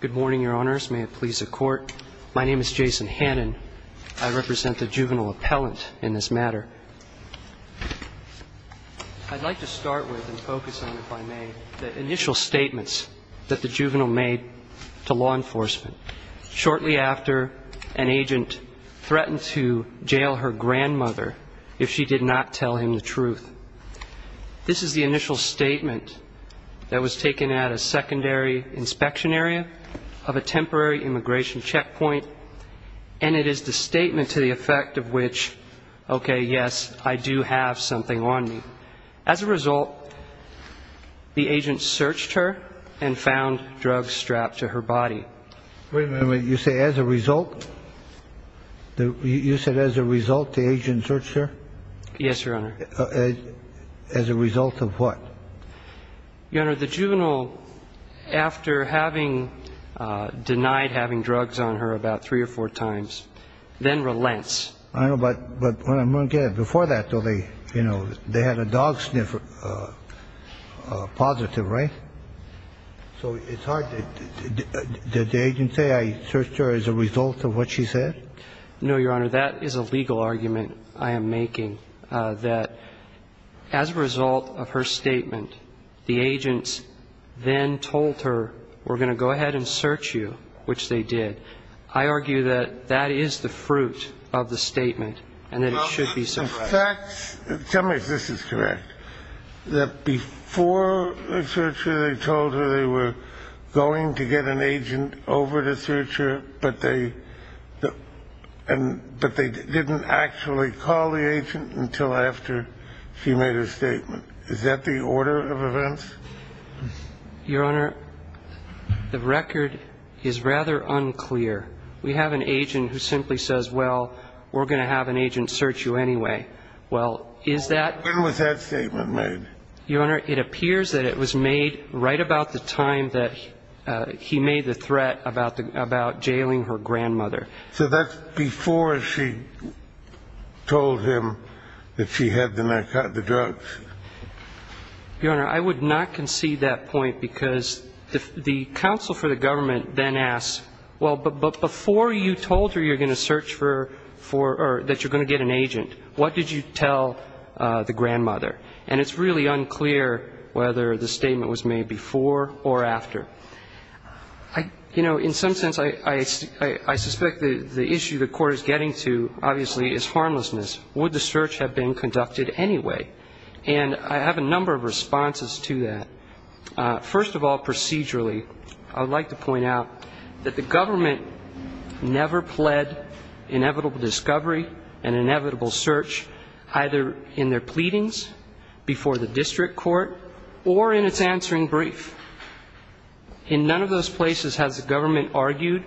Good morning, your honors. May it please the court. My name is Jason Hannan. I represent the juvenile appellant in this matter. I'd like to start with and focus on, if I may, the initial statements that the juvenile made to law enforcement shortly after an agent threatened to jail her grandmother if she did not tell him the truth. This is the initial statement that was taken at a secondary inspection area of a temporary immigration checkpoint. And it is the statement to the effect of which, OK, yes, I do have something on me. As a result, the agent searched her and found drugs strapped to her body. Wait a minute. You say as a result, you said as a result, the agent searched her? Yes, your honor. As a result of what? Your honor, the juvenile, after having denied having drugs on her about three or four times, then relents. I know, but before that, though, they had a dog sniffer positive, right? So it's hard. Did the agent say I searched her as a result of what she said? No, your honor. That is a legal argument I am making, that as a result of her statement, the agents then told her, we're going to go ahead and search you, which they did. I argue that that is the fruit of the statement and that it should be suppressed. Tell me if this is correct, that before they searched her, they told her they were going to get an agent over to search her, but they didn't actually call the agent until after she made a statement. Is that the order of events? Your honor, the record is rather unclear. We have an agent who simply says, well, we're going to have an agent search you anyway. Well, is that... When was that statement made? Your honor, it appears that it was made right about the time that he made the threat about jailing her grandmother. So that's before she told him that she had the drugs? Your honor, I would not concede that point because the counsel for the government then asks, well, but before you told her you're going to search for, or that you're going to get an agent, what did you tell the grandmother? And it's really unclear whether the statement was made before or after. You know, in some sense, I suspect the issue the Court is getting to, obviously, is harmlessness. Would the search have been conducted anyway? And I have a number of responses to that. First of all, procedurally, I would like to point out that the government never pled inevitable discovery and inevitable search, either in their pleadings before the district court or in its answering brief. In none of those places has the government argued,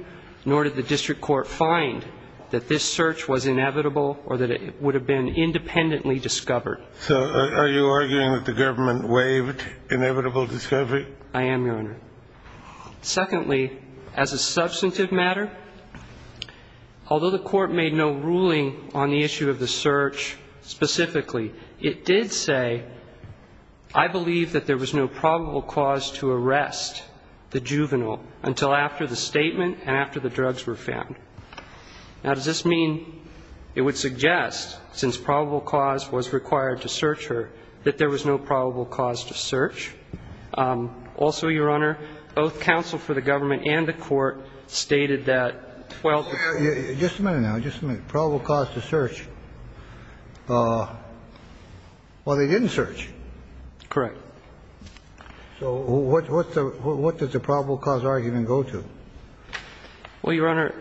nor did the district court find, that this search was inevitable or that it would have been independently discovered. So are you arguing that the government waived inevitable discovery? I am, your honor. Secondly, as a substantive matter, although the court made no ruling on the issue of the search specifically, it did say, I believe that there was no probable cause to arrest the juvenile until after the statement and after the drugs were found. Now, does this mean it would suggest, since probable cause was required to search her, that there was no probable cause to search? Also, your honor, both counsel for the government and the court stated that, well the court said there was no probable cause to arrest the juvenile until after the statement and after the drugs were found. Now, just a minute. Probable cause to search. Well, they didn't search. Correct. So what does the probable cause argument go to? Well, your honor,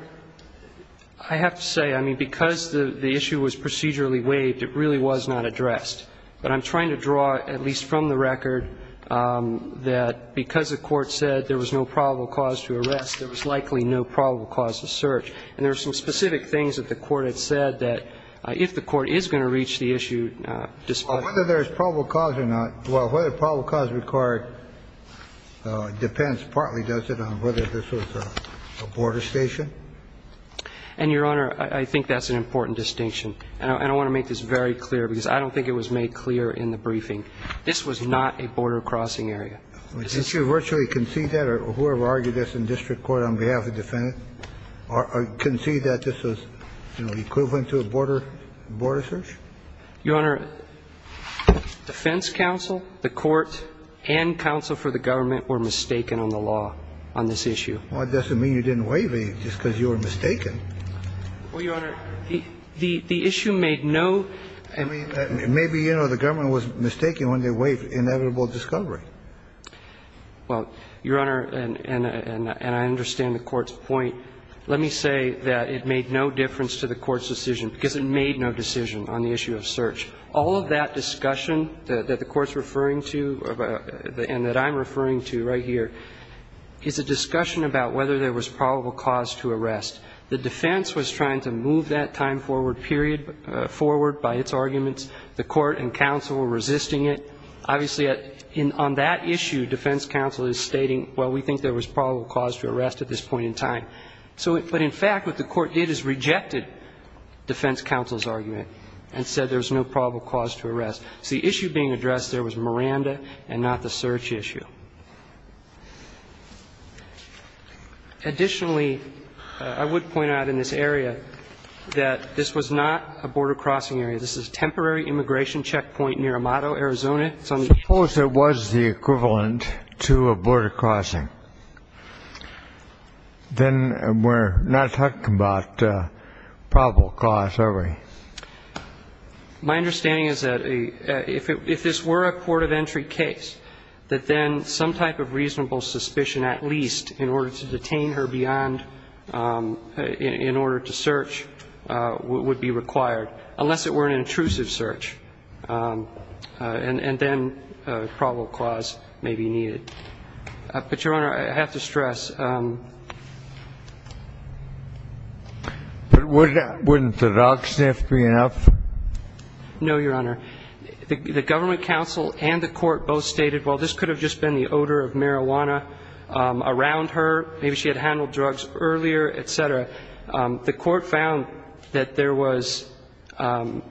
I have to say, I mean, because the issue was procedurally waived, it really was not addressed. But I'm trying to draw, at least from the record, that because the court said there was no probable cause to arrest, there was likely no probable cause to search. And there are some specific things that the court had said that if the court is going to reach the issue, despite the fact that there is probable cause or not, well, whether probable cause required depends partly, does it, on whether this was a border station? And, your honor, I think that's an important distinction. And I want to make this very clear because I don't think it was made clear in the briefing. This was not a border crossing area. Did you virtually concede that or whoever argued this in district court on behalf of the defendant? Or concede that this was, you know, equivalent to a border search? Your honor, defense counsel, the court, and counsel for the government were mistaken on the law on this issue. Well, it doesn't mean you didn't waive it just because you were mistaken. Well, your honor, the issue made no. I mean, maybe, you know, the government was mistaken when they waived inevitable discovery. Well, your honor, and I understand the court's point. Let me say that it made no difference to the court's decision because it made no decision on the issue of search. All of that discussion that the court's referring to and that I'm referring to right here is a discussion about whether there was probable cause to arrest. The defense was trying to move that time forward period forward by its arguments. The court and counsel were resisting it. Obviously, on that issue, defense counsel is stating, well, we think there was probable cause to arrest at this point in time. But in fact, what the court did is rejected defense counsel's argument and said there was no probable cause to arrest. So the issue being addressed there was Miranda and not the search issue. Additionally, I would point out in this area that this was not a border crossing area. This is a temporary immigration checkpoint near Amato, Arizona. Suppose it was the equivalent to a border crossing. Then we're not talking about probable cause, are we? My understanding is that if this were a port of entry case, that then the border And I think that some type of reasonable suspicion, at least, in order to detain her beyond ñ in order to search would be required, unless it were an intrusive search. And then probable cause may be needed. But, Your Honor, I have to stress ñ But wouldn't the dog sniff be enough? No, Your Honor. The government counsel and the court both stated, well, this could have just been the odor of marijuana around her. Maybe she had handled drugs earlier, et cetera. The court found that there was ñ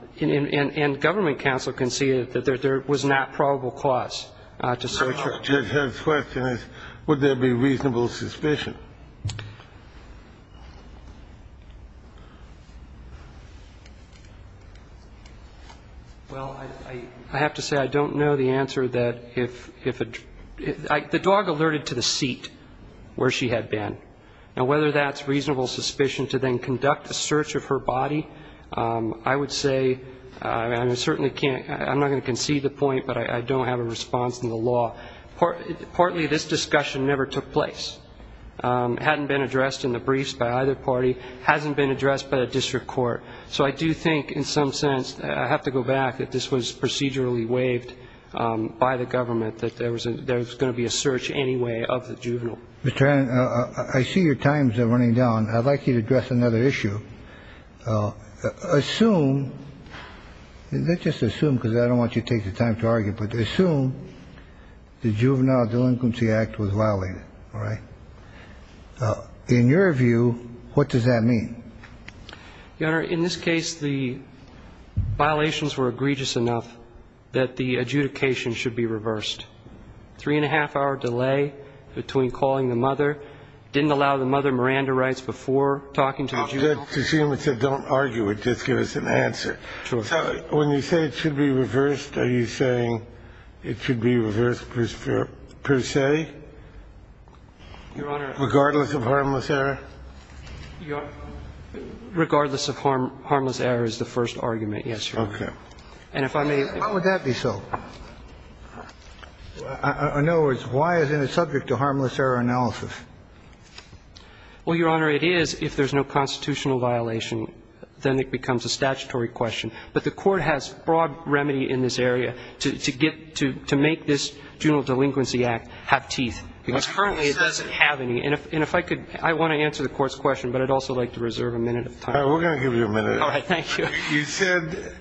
and government counsel conceded that there was not probable cause to search her. Well, I have to say, I don't know the answer that if a ñ the dog alerted to the seat where she had been. Now, whether that's reasonable suspicion to then conduct a search of her body, I would say ñ and I certainly can't ñ I'm not going to concede the point, but I don't have a response to the law. Partly, this discussion never took place. It hadn't been addressed in the briefs by either party. It hasn't been addressed by the district court. So I do think, in some sense, I have to go back, that this was procedurally waived by the government, that there was going to be a search anyway of the juvenile. Mr. Hannon, I see your time is running down. I'd like you to address another issue. Assume ñ not just assume, because I don't want you to take the time to argue, but the juvenile delinquency act was violated. All right? In your view, what does that mean? Your Honor, in this case, the violations were egregious enough that the adjudication should be reversed. Three-and-a-half-hour delay between calling the mother, didn't allow the mother Miranda rights before talking to the juvenile. To assume, it said, don't argue it, just give us an answer. So when you say it should be reversed, are you saying it should be reversed per se? Your Honor ñ Regardless of harmless error? Regardless of harmless error is the first argument, yes, Your Honor. Okay. And if I may ñ How would that be so? In other words, why isn't it subject to harmless error analysis? Well, Your Honor, it is if there's no constitutional violation. Then it becomes a statutory question. But the court has broad remedy in this area to get ñ to make this juvenile delinquency act have teeth, because currently it doesn't have any. And if I could ñ I want to answer the court's question, but I'd also like to reserve a minute of time. All right. We're going to give you a minute. All right. Thank you. You said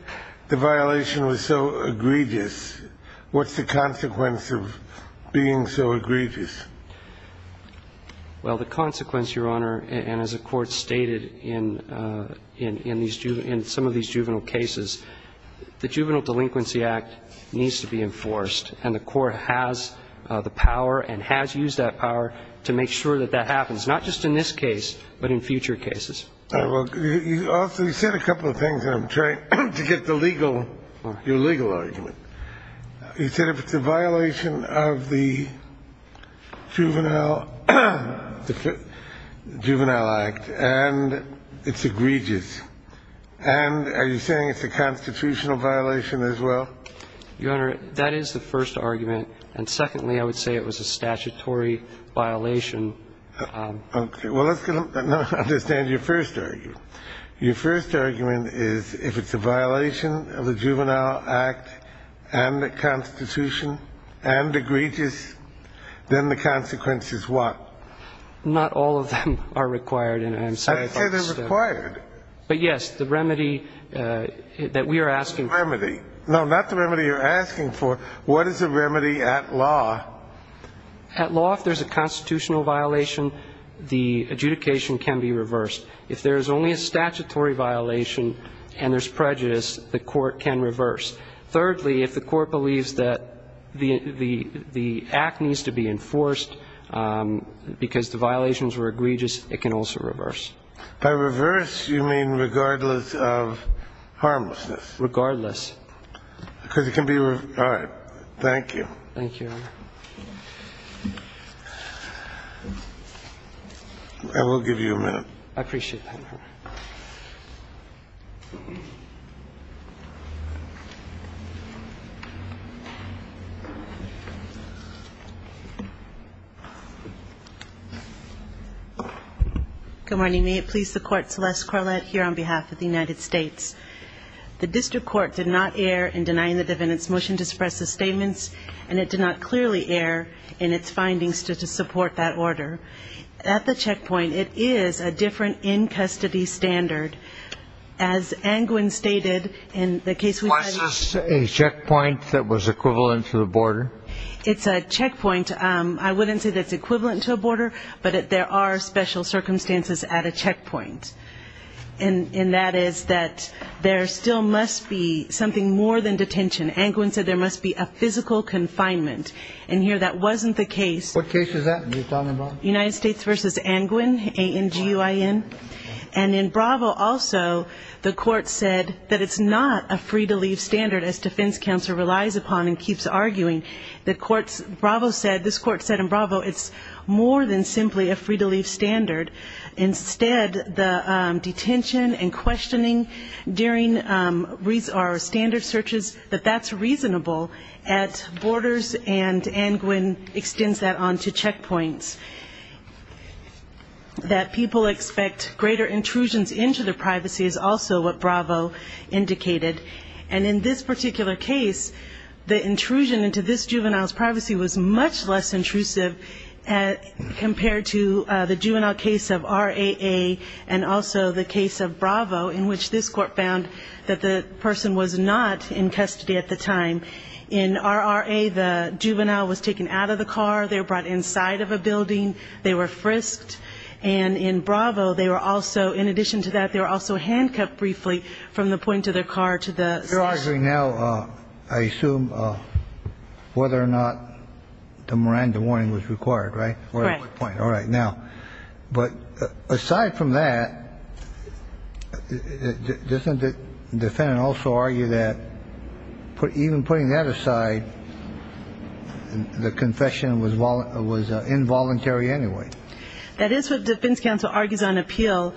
the violation was so egregious. What's the consequence of being so egregious? Well, the consequence, Your Honor, and as the court stated in these ñ in some of these juvenile cases, the Juvenile Delinquency Act needs to be enforced. And the court has the power and has used that power to make sure that that happens, not just in this case, but in future cases. All right. Well, you also ñ you said a couple of things, and I'm trying to get the legal ñ your legal argument. You said if it's a violation of the juvenile ñ the Juvenile Act and it's egregious and ñ are you saying it's a constitutional violation as well? Your Honor, that is the first argument. And secondly, I would say it was a statutory violation. Okay. Well, let's get a ñ understand your first argument. Your first argument is if it's a violation of the Juvenile Act and the Constitution and egregious, then the consequence is what? Not all of them are required. And I'm sorry to ñ I said they're required. But, yes, the remedy that we are asking for ñ The remedy. No, not the remedy you're asking for. What is the remedy at law? At law, if there's a constitutional violation, the adjudication can be reversed. If there's only a statutory violation and there's prejudice, the court can reverse. Thirdly, if the court believes that the act needs to be enforced because the violations were egregious, it can also reverse. By reverse, you mean regardless of harmlessness. Regardless. Because it can be ñ all right. Thank you. Thank you, Your Honor. I will give you a minute. I appreciate that, Your Honor. Good morning. May it please the Court, Celeste Corlett here on behalf of the United States. The district court did not err in denying the defendant's motion to suppress the statements, and it did not clearly err in its findings to support that order. At the checkpoint, it is a different in-custody standard as opposed to the other cases. Was this a checkpoint that was equivalent to a border? It's a checkpoint. I wouldn't say that it's equivalent to a border, but there are special circumstances at a checkpoint, and that is that there still must be something more than detention. Angwin said there must be a physical confinement. And here that wasn't the case. What case is that? United States v. Angwin, A-N-G-U-I-N. And in Bravo also, the Court said that it's not a free-to-leave standard, as defense counsel relies upon and keeps arguing. This Court said in Bravo it's more than simply a free-to-leave standard. Instead, the detention and questioning during our standard searches, that that's reasonable at borders, and Angwin extends that on to checkpoints. That people expect greater intrusions into their privacy is also what Bravo indicated. And in this particular case, the intrusion into this juvenile's privacy was much less intrusive compared to the juvenile case of R-A-A and also the case of Bravo, in which this Court found that the person was not in custody at the time. In R-R-A, the juvenile was taken out of the car. They were brought inside of a building. They were frisked. And in Bravo, they were also, in addition to that, they were also handcuffed briefly from the point of the car to the station. You're arguing now, I assume, whether or not the Miranda warning was required, right? Right. All right. Now, but aside from that, doesn't the defendant also argue that even putting that aside, the confession was involuntary anyway? That is what defense counsel argues on appeal.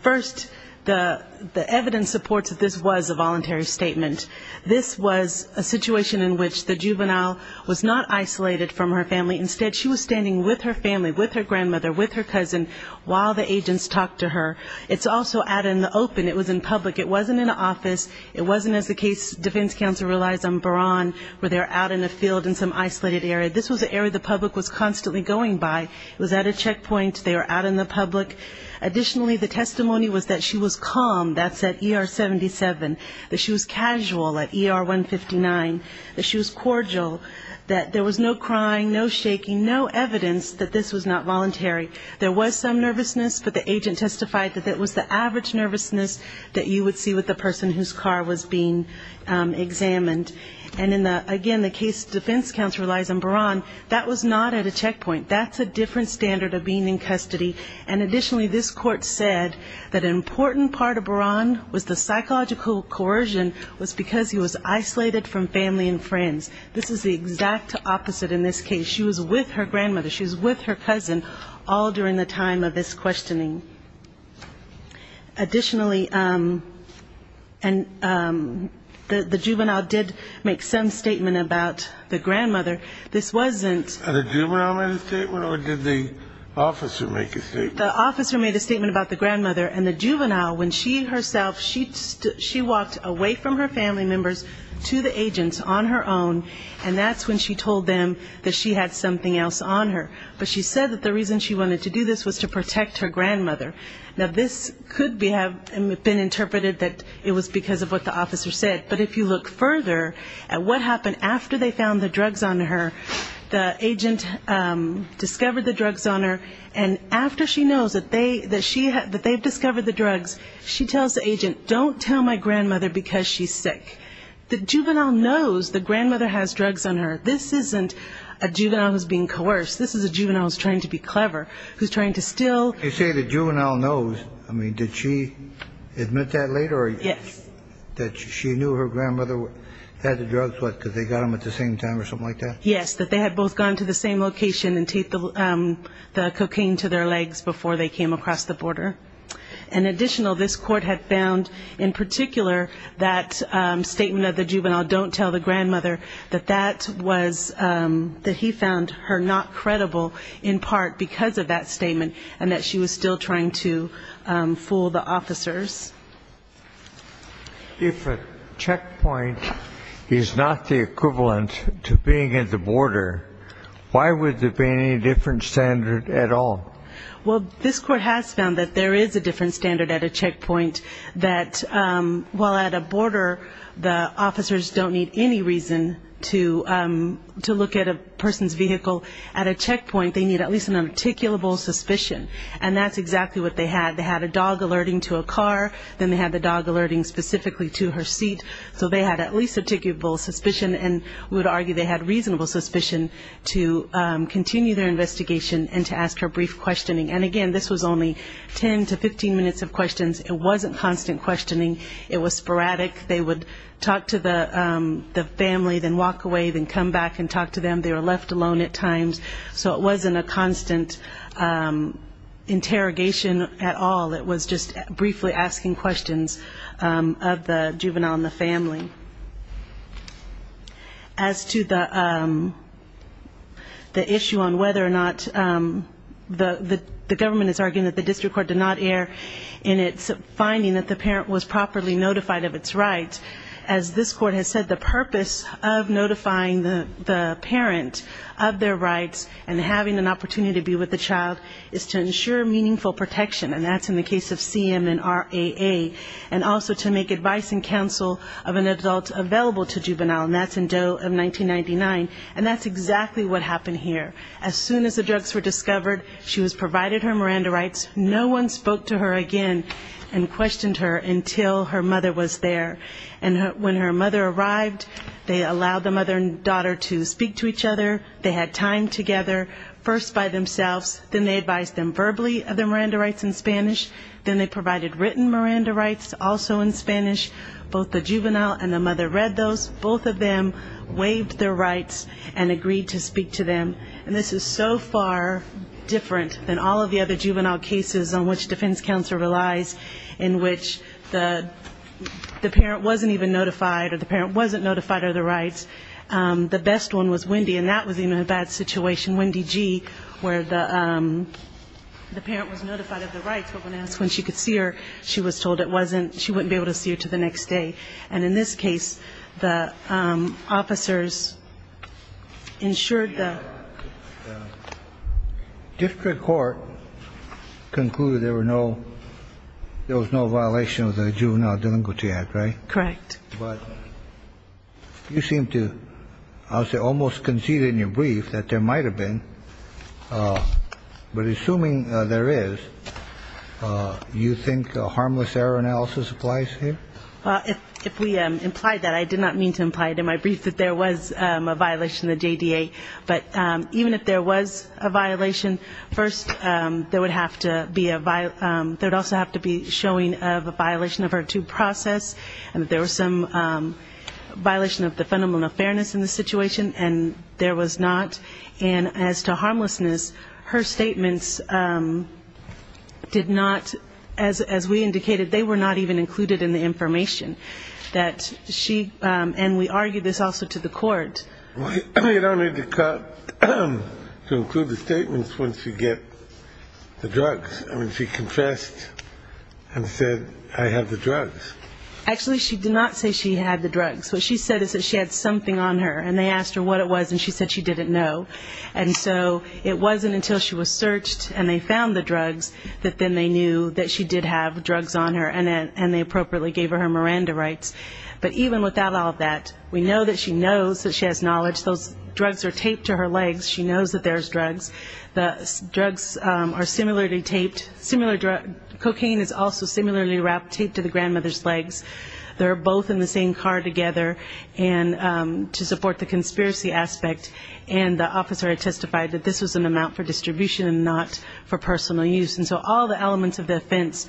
First, the evidence supports that this was a voluntary statement. This was a situation in which the juvenile was not isolated from her family. Instead, she was standing with her family, with her grandmother, with her cousin, while the agents talked to her. It's also out in the open. It was in public. It wasn't in an office. It wasn't as the case defense counsel relies on Baran, where they're out in a field in some isolated area. This was an area the public was constantly going by. It was at a checkpoint. They were out in the public. Additionally, the testimony was that she was calm, that's at ER 77, that she was casual at ER 159, that she was cordial, that there was no crying, no shaking, no evidence that this was not voluntary. There was some nervousness, but the agent testified that that was the average nervousness that you would see with the person whose car was being examined. And again, the case defense counsel relies on Baran, that was not at a checkpoint. That's a different standard of being in custody. And additionally, this court said that an important part of Baran was the psychological coercion was because he was isolated from family and friends. This is the exact opposite in this case. She was with her grandmother. She was with her cousin all during the time of this questioning. Additionally, the juvenile did make some statement about the grandmother. This wasn't the juvenile made a statement or did the officer make a statement? The officer made a statement about the grandmother. And the juvenile, when she herself, she walked away from her family members to the agents on her own, and that's when she told them that she had something else on her. But she said that the reason she wanted to do this was to protect her grandmother. Now, this could have been interpreted that it was because of what the officer said. But if you look further at what happened after they found the drugs on her, the agent discovered the drugs on her, and after she knows that they've discovered the drugs, she tells the agent, don't tell my grandmother because she's sick. The juvenile knows the grandmother has drugs on her. This isn't a juvenile who's being coerced. This is a juvenile who's trying to be clever, who's trying to still. You say the juvenile knows. I mean, did she admit that later? Yes. That she knew her grandmother had the drugs, what, because they got them at the same time or something like that? Yes, that they had both gone to the same location and taped the cocaine to their legs before they came across the border. In addition, this court had found in particular that statement of the juvenile, don't tell the grandmother, that he found her not credible in part because of that statement and that she was still trying to fool the officers. If a checkpoint is not the equivalent to being at the border, why would there be any different standard at all? Well, this court has found that there is a different standard at a checkpoint, that while at a border the officers don't need any reason to look at a person's vehicle, at a checkpoint they need at least an articulable suspicion, and that's exactly what they had. They had a dog alerting to a car. Then they had the dog alerting specifically to her seat. So they had at least articulable suspicion and we would argue they had reasonable suspicion to continue their investigation and to ask her brief questioning. And, again, this was only 10 to 15 minutes of questions. It wasn't constant questioning. It was sporadic. They would talk to the family, then walk away, then come back and talk to them. They were left alone at times. So it wasn't a constant interrogation at all. It was just briefly asking questions of the juvenile and the family. As to the issue on whether or not the government is arguing that the district court did not err in its finding that the parent was properly notified of its rights, as this court has said the purpose of notifying the parent of their rights and having an opportunity to be with the child is to ensure meaningful protection, and that's in the case of CM and RAA, and also to make advice and counsel of an adult available to juvenile, and that's in Doe of 1999. And that's exactly what happened here. As soon as the drugs were discovered, she was provided her Miranda rights. No one spoke to her again and questioned her until her mother was there. And when her mother arrived, they allowed the mother and daughter to speak to each other. They had time together, first by themselves, then they advised them verbally of their Miranda rights in Spanish, then they provided written Miranda rights also in Spanish. Both the juvenile and the mother read those. Both of them waived their rights and agreed to speak to them. And this is so far different than all of the other juvenile cases on which defense counsel relies, in which the parent wasn't even notified or the parent wasn't notified of their rights. The best one was Wendy, and that was even a bad situation. In Wendy G., where the parent was notified of the rights, but when asked when she could see her, she was told it wasn't, she wouldn't be able to see her until the next day. And in this case, the officers ensured the... The district court concluded there was no violation of the Juvenile Delinquency Act, right? Correct. But you seem to, I would say, almost concede in your brief that there might have been, but assuming there is, you think a harmless error analysis applies here? If we implied that, I did not mean to imply it in my brief that there was a violation of the JDA, but even if there was a violation, first there would have to be a... There would also have to be showing of a violation of her due process, and that there was some violation of the fundamental fairness in the situation, and there was not. And as to harmlessness, her statements did not, as we indicated, they were not even included in the information that she... And we argued this also to the court. You don't need to cut to include the statements when she gets the drugs. I mean, she confessed and said, I have the drugs. Actually, she did not say she had the drugs. What she said is that she had something on her, and they asked her what it was, and she said she didn't know. And so it wasn't until she was searched and they found the drugs that then they knew that she did have drugs on her, and they appropriately gave her her Miranda rights. But even without all of that, we know that she knows that she has knowledge. Those drugs are taped to her legs. She knows that there's drugs. The drugs are similarly taped. Cocaine is also similarly taped to the grandmother's legs. They're both in the same car together. And to support the conspiracy aspect, and the officer had testified that this was an amount for distribution and not for personal use. And so all the elements of the offense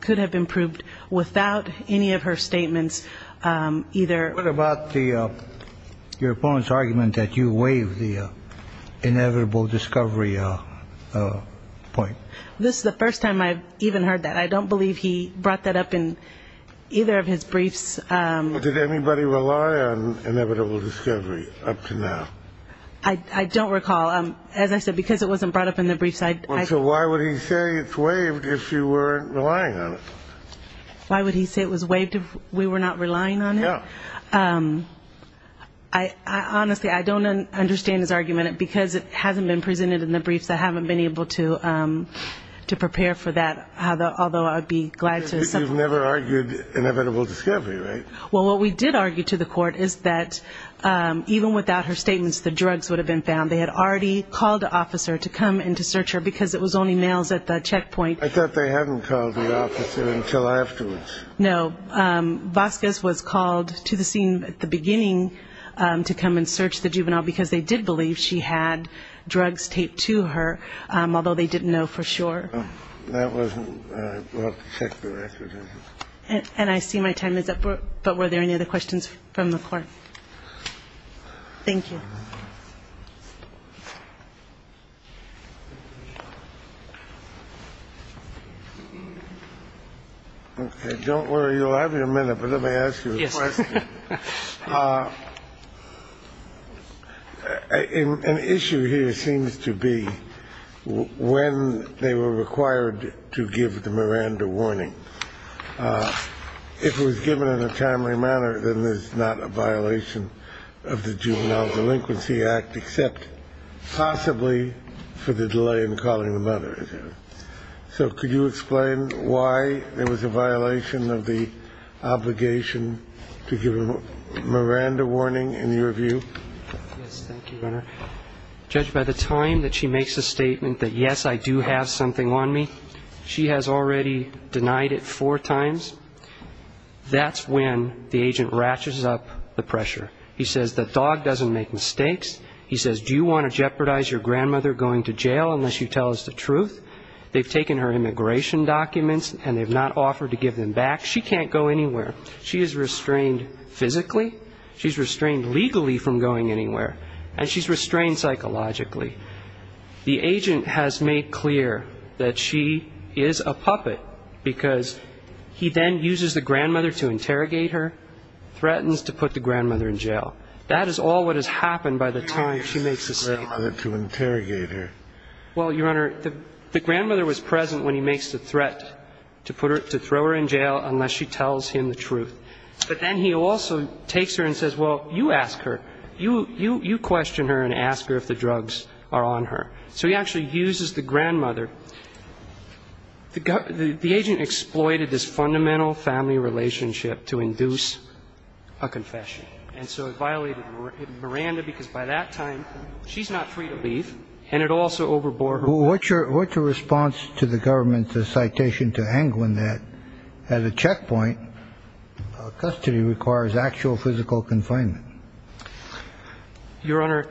could have been proved without any of her statements, either. What about your opponent's argument that you waive the inevitable discovery point? This is the first time I've even heard that. I don't believe he brought that up in either of his briefs. Did anybody rely on inevitable discovery up to now? I don't recall. As I said, because it wasn't brought up in the briefs, I. So why would he say it's waived if you weren't relying on it? Why would he say it was waived if we were not relying on it? Yeah. Honestly, I don't understand his argument because it hasn't been presented in the briefs. I haven't been able to prepare for that, although I'd be glad to. You've never argued inevitable discovery, right? Well, what we did argue to the court is that even without her statements, the drugs would have been found. They had already called the officer to come in to search her because it was only males at the checkpoint. I thought they hadn't called the officer until afterwards. No. Vasquez was called to the scene at the beginning to come and search the juvenile because they did believe she had drugs taped to her, although they didn't know for sure. That wasn't brought to check the record, was it? And I see my time is up. But were there any other questions from the court? Thank you. Okay. Don't worry. You'll have your minute, but let me ask you a question. Yes. An issue here seems to be when they were required to give the Miranda warning. If it was given in a timely manner, then there's not a violation of the Juvenile Delinquency Act, except possibly for the delay in calling the mother. So could you explain why there was a violation of the obligation to give a Miranda warning in your view? Thank you, Your Honor. Judge, by the time that she makes a statement that, yes, I do have something on me, she has already denied it four times, that's when the agent ratchets up the pressure. He says the dog doesn't make mistakes. He says, do you want to jeopardize your grandmother going to jail unless you tell us the truth? They've taken her immigration documents and they've not offered to give them back. She can't go anywhere. She is restrained physically. She's restrained legally from going anywhere. And she's restrained psychologically. The agent has made clear that she is a puppet because he then uses the grandmother to interrogate her, threatens to put the grandmother in jail. That is all what has happened by the time she makes the statement. He uses the grandmother to interrogate her. Well, Your Honor, the grandmother was present when he makes the threat to throw her in jail unless she tells him the truth. But then he also takes her and says, well, you ask her. You question her and ask her if the drugs are on her. So he actually uses the grandmother. The agent exploited this fundamental family relationship to induce a confession. And so it violated Miranda because by that time she's not free to leave, and it also overbore her. Your Honor, what's your response to the government's citation to Anglin that at a checkpoint, custody requires actual physical confinement? Your Honor,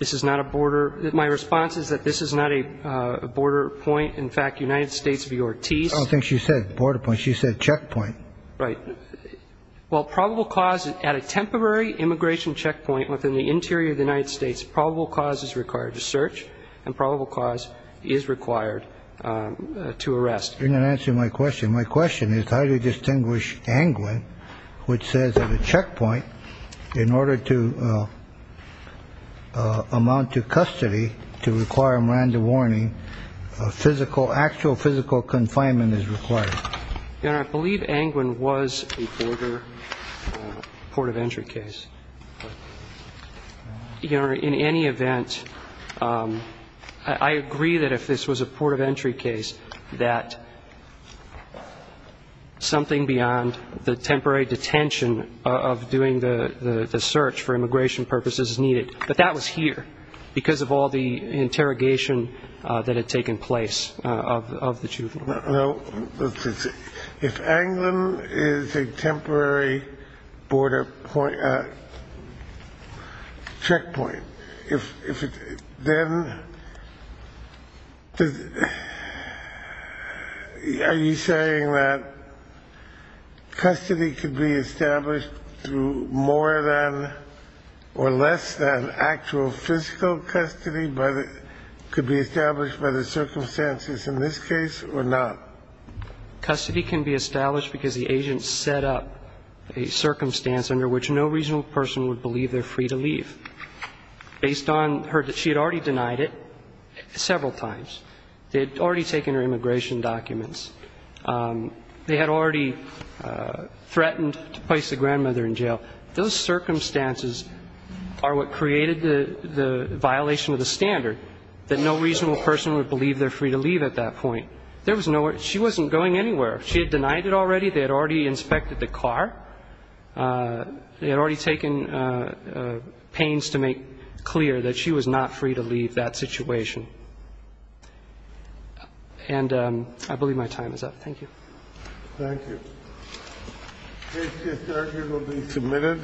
this is not a border. My response is that this is not a border point. In fact, United States of your T's. I don't think she said border point. She said checkpoint. Right. Well, probable cause at a temporary immigration checkpoint within the interior of the United States, probable cause is required to search, and probable cause is required to arrest. You're not answering my question. My question is how do you distinguish Anglin, which says at a checkpoint, in order to amount to custody, to require Miranda warning, physical, actual physical confinement is required? Your Honor, I believe Anglin was a border port of entry case. Your Honor, in any event, I agree that if this was a port of entry case, that something beyond the temporary detention of doing the search for immigration purposes is needed. But that was here because of all the interrogation that had taken place of the two of you. If Anglin is a temporary checkpoint, then are you saying that custody could be established through more than or less than actual physical custody, could be established by the circumstances in this case or not? Custody can be established because the agent set up a circumstance under which no reasonable person would believe they're free to leave. Based on her, she had already denied it several times. They had already taken her immigration documents. They had already threatened to place the grandmother in jail. Those circumstances are what created the violation of the standard, that no reasonable person would believe they're free to leave at that point. She wasn't going anywhere. She had denied it already. They had already inspected the car. They had already taken pains to make clear that she was not free to leave that situation. And I believe my time is up. Thank you. Thank you. This discharge will be submitted.